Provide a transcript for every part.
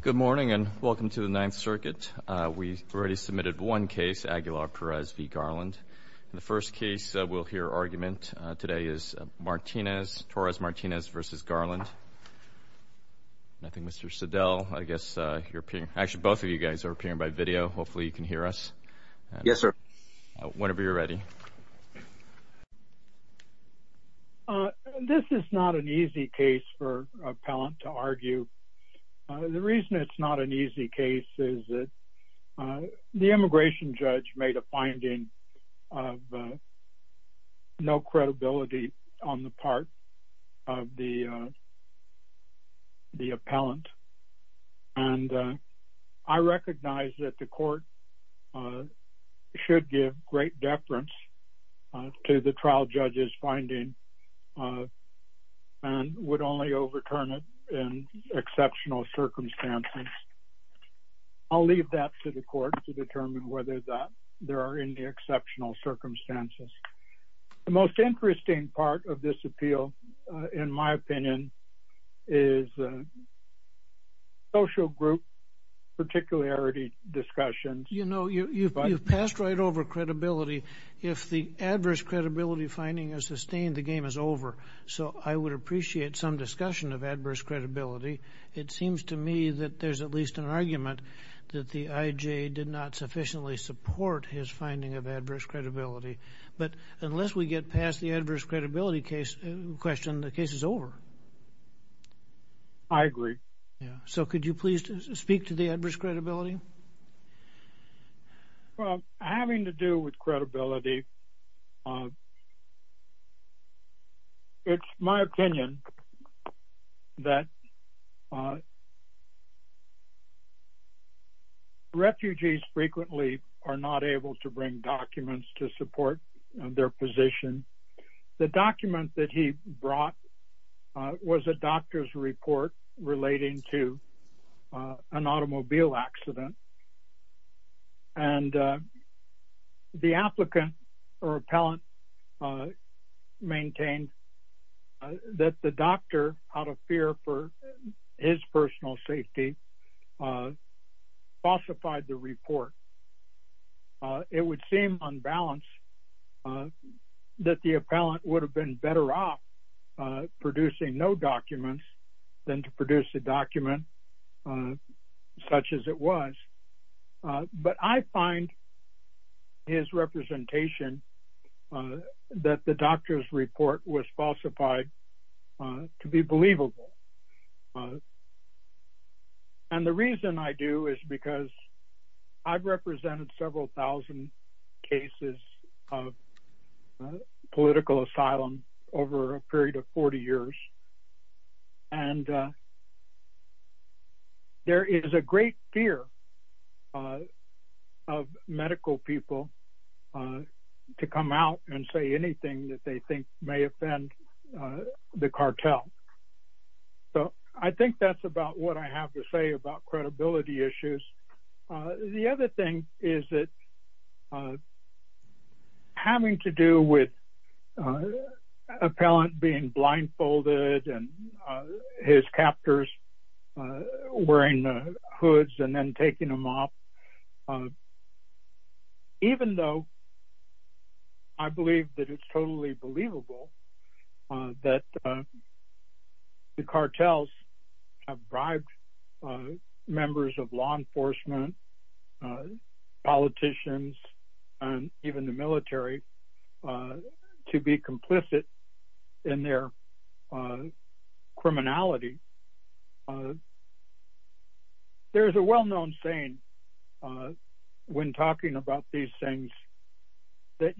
Good morning and welcome to the Ninth Circuit. We've already submitted one case, Aguilar-Perez v. Garland. The first case we'll hear argument today is Martinez, Torres-Martinez v. Garland. I think Mr. Siddell, I guess you're appearing, actually both of you guys are appearing by video. Hopefully you can hear us. Yes sir. Whenever you're ready. This is not an easy case for an appellant to argue. The reason it's not an easy case is that the immigration judge made a finding of no credibility on the part of the the appellant and I recognize that the court should give great deference to the trial judge's finding and would only overturn it in exceptional circumstances. I'll leave that to the court to determine whether that there are any exceptional circumstances. The most interesting part of this appeal, in my opinion, is social group particularity discussions. You know you've passed right over credibility. If the adverse credibility finding is sustained, the game is over. So I would appreciate some discussion of adverse credibility. It seems to me that there's at least an argument that the IJ did not sufficiently support his finding of adverse credibility. But unless we get past the adverse credibility question, the case is over. I agree. So could you please speak to the adverse credibility? Having to do with credibility, it's my opinion that refugees frequently are not able to bring documents to support their position. The document that he brought was a doctor's report relating to an automobile accident and the applicant or appellant maintained that the doctor, out of fear for his personal safety, falsified the report. It would seem unbalanced that the appellant would have been better off producing no documents than to produce a document such as it was. But I find his representation that the doctor's report was believable. And the reason I do is because I've represented several thousand cases of political asylum over a period of 40 years. And there is a great fear of medical people to come out and say anything that they think may offend the cartel. So I think that's about what I have to say about credibility issues. The other thing is that having to do with appellant being I believe that it's totally believable that the cartels have bribed members of law enforcement, politicians, and even the military to be complicit in their criminality. There's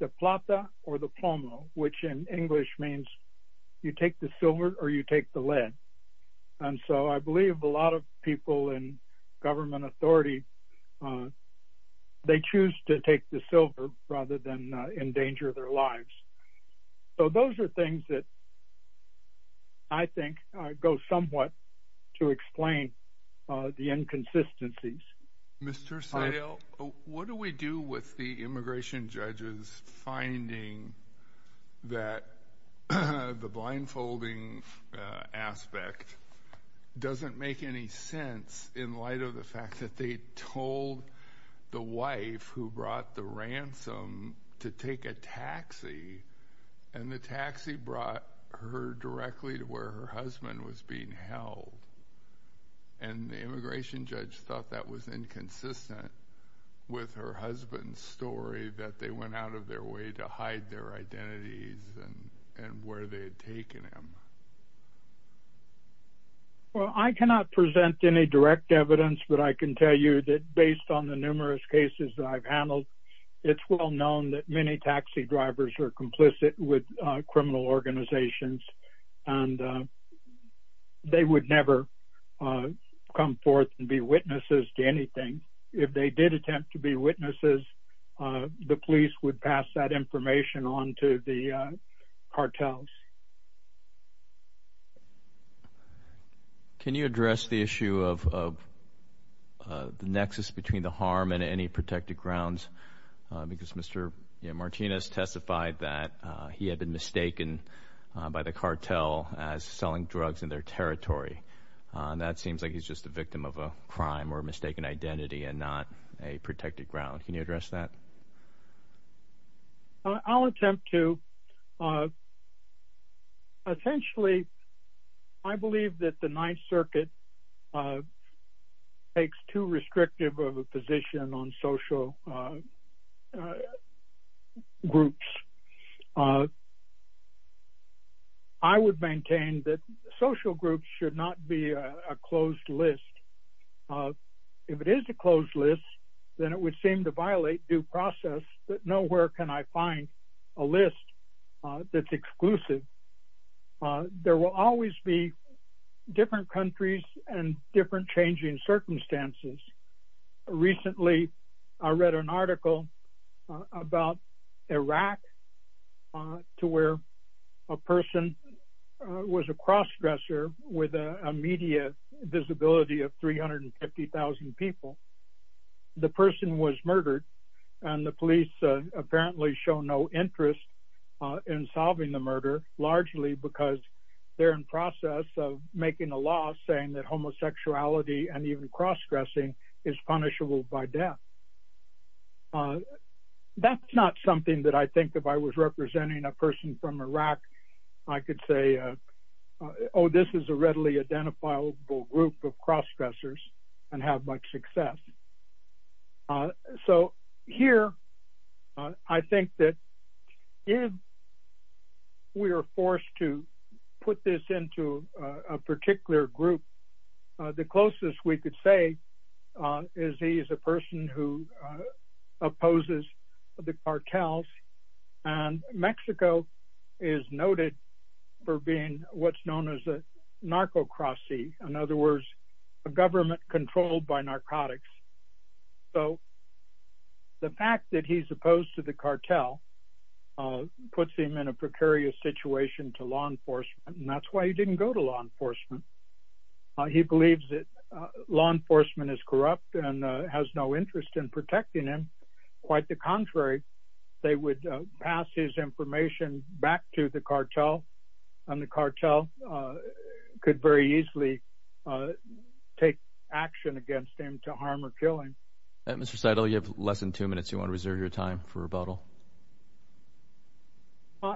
a plata or the plomo, which in English means you take the silver or you take the lead. And so I believe a lot of people in government authority, they choose to take the silver rather than endanger their lives. So those are things that I think go somewhat to explain the inconsistencies. Mr. Sayle, what do we do with the immigration judges finding that the blindfolding aspect doesn't make any sense in light of the fact that they told the wife who brought the ransom to take a taxi and the taxi brought her directly to where her husband was being held. And the immigration judge thought that was inconsistent with her husband's story that they went out of their way to hide their identities and where they had taken him. Well, I cannot present any direct evidence, but I can tell you that based on the numerous cases that I've handled, it's well known that many taxi drivers are complicit with criminal organizations. And they would never come forth and be witnesses to anything. If they did attempt to be witnesses, the police would pass that information on to the cartels. Can you address the issue of the nexus between the harm and any protected grounds? Because Mr. Martinez testified that he had been mistaken by the cartel as just a victim of a crime or mistaken identity and not a protected ground. Can you address that? I'll attempt to. Essentially, I believe that the Ninth Circuit takes too restrictive of a position on social groups. I would maintain that social groups should not be a closed list. If it is a closed list, then it would seem to violate due process that nowhere can I find a list that's exclusive. There will always be different countries and different changing circumstances. Recently, I read an article about Iraq to where a person was a crossdresser with a media visibility of 350,000 people. The person was murdered, and the police apparently show no interest in solving the murder, largely because they're in process of making a law saying that homosexuality and even death. That's not something that I think if I was representing a person from Iraq, I could say, oh, this is a readily identifiable group of crossdressers and have much success. Here, I think that if we are forced to put this into a particular group, the closest we could say is he is a person who opposes the cartels. Mexico is noted for being what's known as a narco crossie. In other words, a government controlled by narcotics. The fact that he's opposed to the cartel puts him in a precarious situation to law enforcement. That's why he didn't go to law enforcement. He believes law enforcement is corrupt and has no interest in protecting him. Quite the contrary. They would pass his information back to the cartel, and the cartel could very easily take action against him to harm or kill him. Mr. Seidel, you have less than two minutes. You want to reserve your time for rebuttal?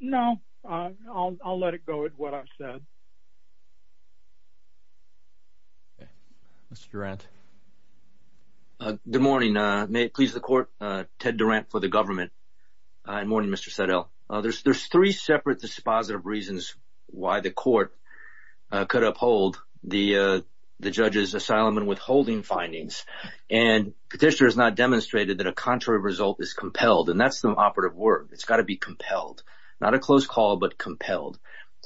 No, I'll let it go with what I've said. Mr. Durant. Good morning. May it please the court, Ted Durant for the government. Good morning, Mr. Seidel. There's three separate dispositive reasons why the court could uphold the judge's asylum and withholding findings. Petitioner has not demonstrated that a contrary result is compelled. That's the operative word. It's got to be compelled. Not a close call, but compelled.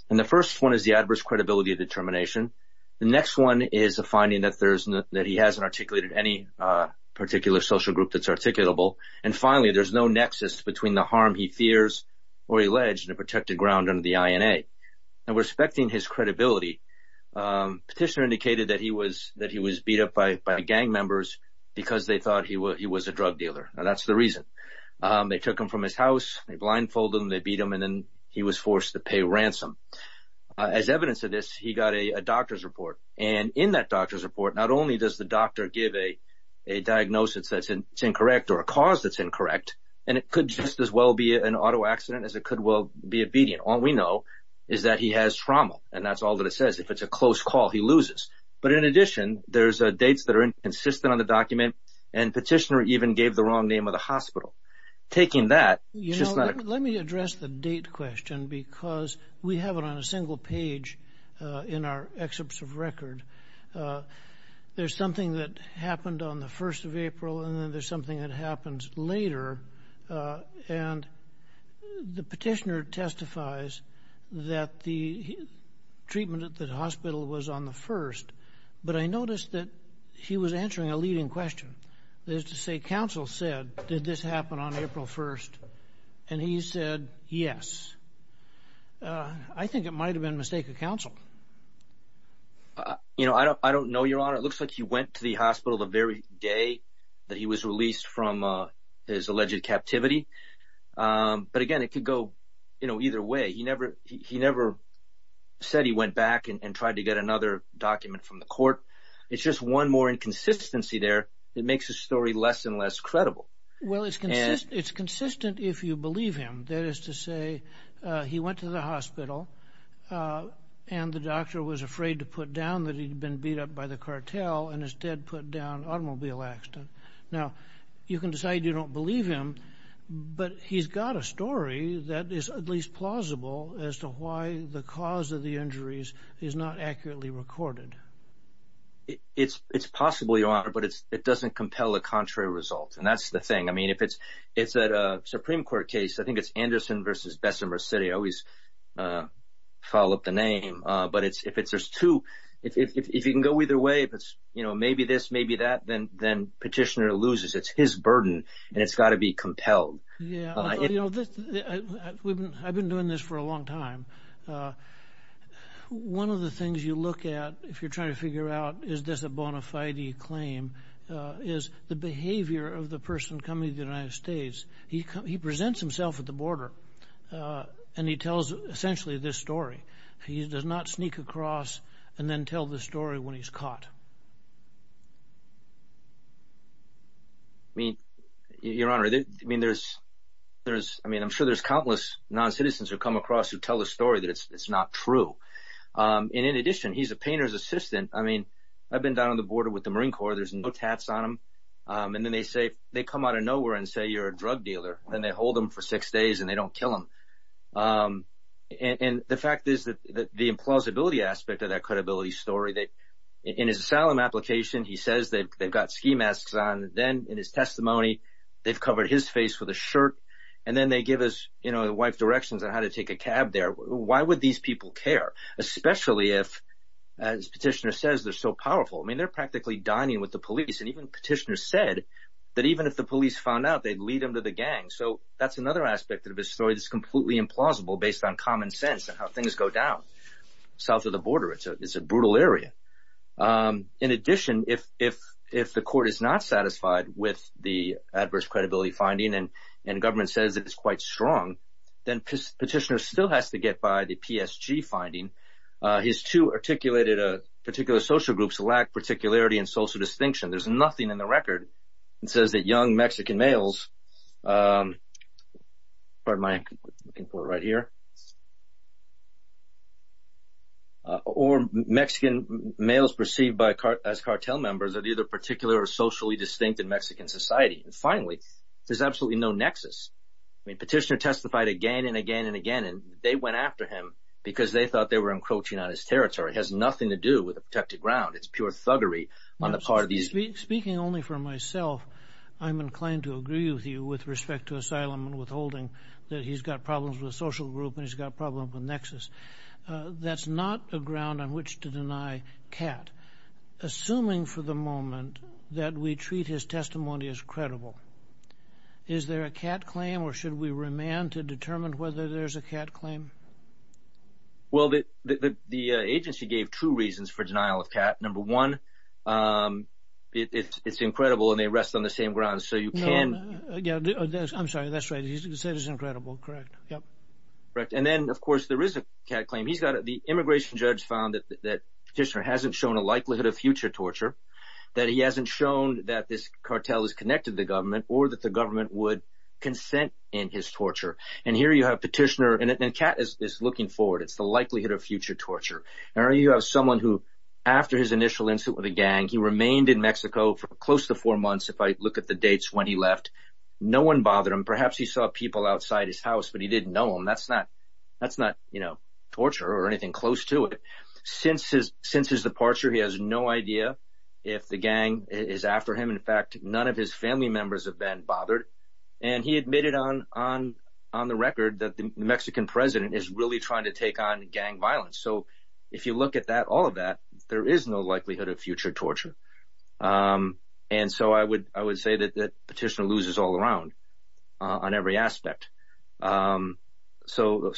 The first one is the adverse credibility of determination. The next one is a finding that he hasn't articulated any particular social group that's articulable. Finally, there's no nexus between the harm he fears or alleged and a protected ground under the INA. Respecting his credibility, Petitioner indicated that he was beat up by gang members because they thought he was a drug dealer. That's the reason. They took him from his house. They blindfolded him. They beat him, and then he was forced to pay ransom. As evidence of this, he got a doctor's report. In that doctor's report, not only does the doctor give a diagnosis that's incorrect or a cause that's incorrect, and it could just as well be an auto accident as it could well be obedient. All we know is that he has trauma, and that's all that it says. If it's a close call, he loses. In addition, there's dates that are inconsistent on the document, and Petitioner even gave the wrong name of the hospital. Taking that, it's just not a... Let me address the date question because we have it on a single page in our excerpts of record. There's something that happened on the 1st of April, and then there's something that happens later. The Petitioner testifies that the treatment at the hospital was on the 1st, but I noticed that he was answering a leading question. That is to say, counsel said, did this happen on April 1st? He said, yes. I think it might have been a mistake of counsel. I don't know, Your Honor. It looks like he went to the hospital the very day that he was released from his alleged captivity. Again, it could go either way. He never said he went back and tried to get another document from the court. It's just one more inconsistency there that makes the story less and less credible. It's consistent if you believe him. That is to say, he went to the hospital and the doctor was afraid to put down that he'd been beat up by the cartel and instead put down automobile accident. Now, you can decide you don't believe him, but he's got a story that is at least plausible as to why the cause of the injuries is not accurately recorded. It's possible, Your Honor, but it doesn't compel a contrary result. That's the thing. If it's a Supreme Court case, I think it's Anderson v. Bessemer City. I always say, maybe this, maybe that, then Petitioner loses. It's his burden and it's got to be compelled. I've been doing this for a long time. One of the things you look at if you're trying to figure out is this a bona fide claim is the behavior of the person coming to the United States. He presents himself at the border and he tells essentially this story. He does not sneak across and then the story when he's caught. Your Honor, I'm sure there's countless non-citizens who come across who tell the story that it's not true. In addition, he's a painter's assistant. I've been down on the border with the Marine Corps. There's no tats on him. Then they come out of nowhere and say you're a drug dealer. They hold him for six days and they don't kill him. The fact is that the implausibility aspect of that credibility story. In his asylum application, he says they've got ski masks on. Then in his testimony, they've covered his face with a shirt and then they give his wife directions on how to take a cab there. Why would these people care? Especially if, as Petitioner says, they're so powerful. They're practically dining with the police. Even Petitioner said that even if the police found out, they'd lead him to the gang. That's another aspect of his story that's completely implausible based on common sense and how things go down south of the border. It's a brutal area. In addition, if the court is not satisfied with the adverse credibility finding and government says it's quite strong, then Petitioner still has to get by the PSG finding. His two articulated particular social groups lack particularity and social distinction. There's nothing in the record that says that young Mexican males or Mexican males perceived as cartel members are either particular or socially distinct in Mexican society. Finally, there's absolutely no nexus. Petitioner testified again and again and again. They went after him because they thought they were encroaching on his territory. It has nothing to do with a protected ground. It's pure thuggery on the part of these people. Speaking only for myself, I'm inclined to agree with you with respect to asylum and withholding that he's got problems with social group and he's got problems with nexus. That's not a ground on which to deny Catt. Assuming for the moment that we treat his testimony as credible, is there a Catt claim or should we remand to determine whether there's a Catt claim? Well, the agency gave two reasons for denial of Catt. Number one, it's incredible and they rest on the same ground. So you can... I'm sorry, that's right. He said it's incredible. Correct. Yep. Correct. And then, of course, there is a Catt claim. The immigration judge found that Petitioner hasn't shown a likelihood of future torture, that he hasn't shown that this cartel is connected to the government or that the government would consent in his torture. And you have Petitioner and Catt is looking forward. It's the likelihood of future torture. And you have someone who, after his initial incident with a gang, he remained in Mexico for close to four months. If I look at the dates when he left, no one bothered him. Perhaps he saw people outside his house, but he didn't know him. That's not, you know, torture or anything close to it. Since his departure, he has no idea if the gang is after him. In fact, none of his that the Mexican president is really trying to take on gang violence. So if you look at that, all of that, there is no likelihood of future torture. And so I would say that Petitioner loses all around on every aspect. So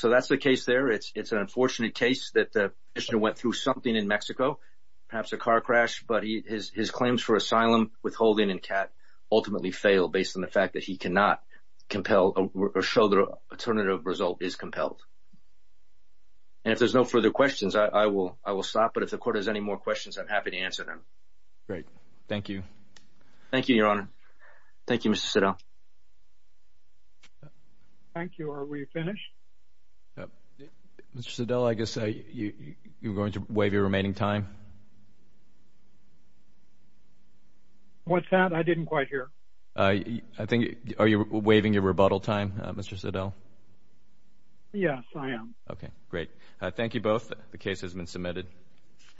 that's the case there. It's an unfortunate case that the Petitioner went through something in Mexico, perhaps a car crash, but his claims for asylum, withholding, and Catt ultimately fail based on the fact that he cannot compel or show the alternative result is compelled. And if there's no further questions, I will stop. But if the court has any more questions, I'm happy to answer them. Great. Thank you. Thank you, Your Honor. Thank you, Mr. Siddell. Thank you. Are we finished? Mr. Siddell, I guess you're going to waive your remaining time. What's that? I didn't quite hear. Are you waiving your rebuttal time, Mr. Siddell? Yes, I am. Okay, great. Thank you both. The case has been submitted.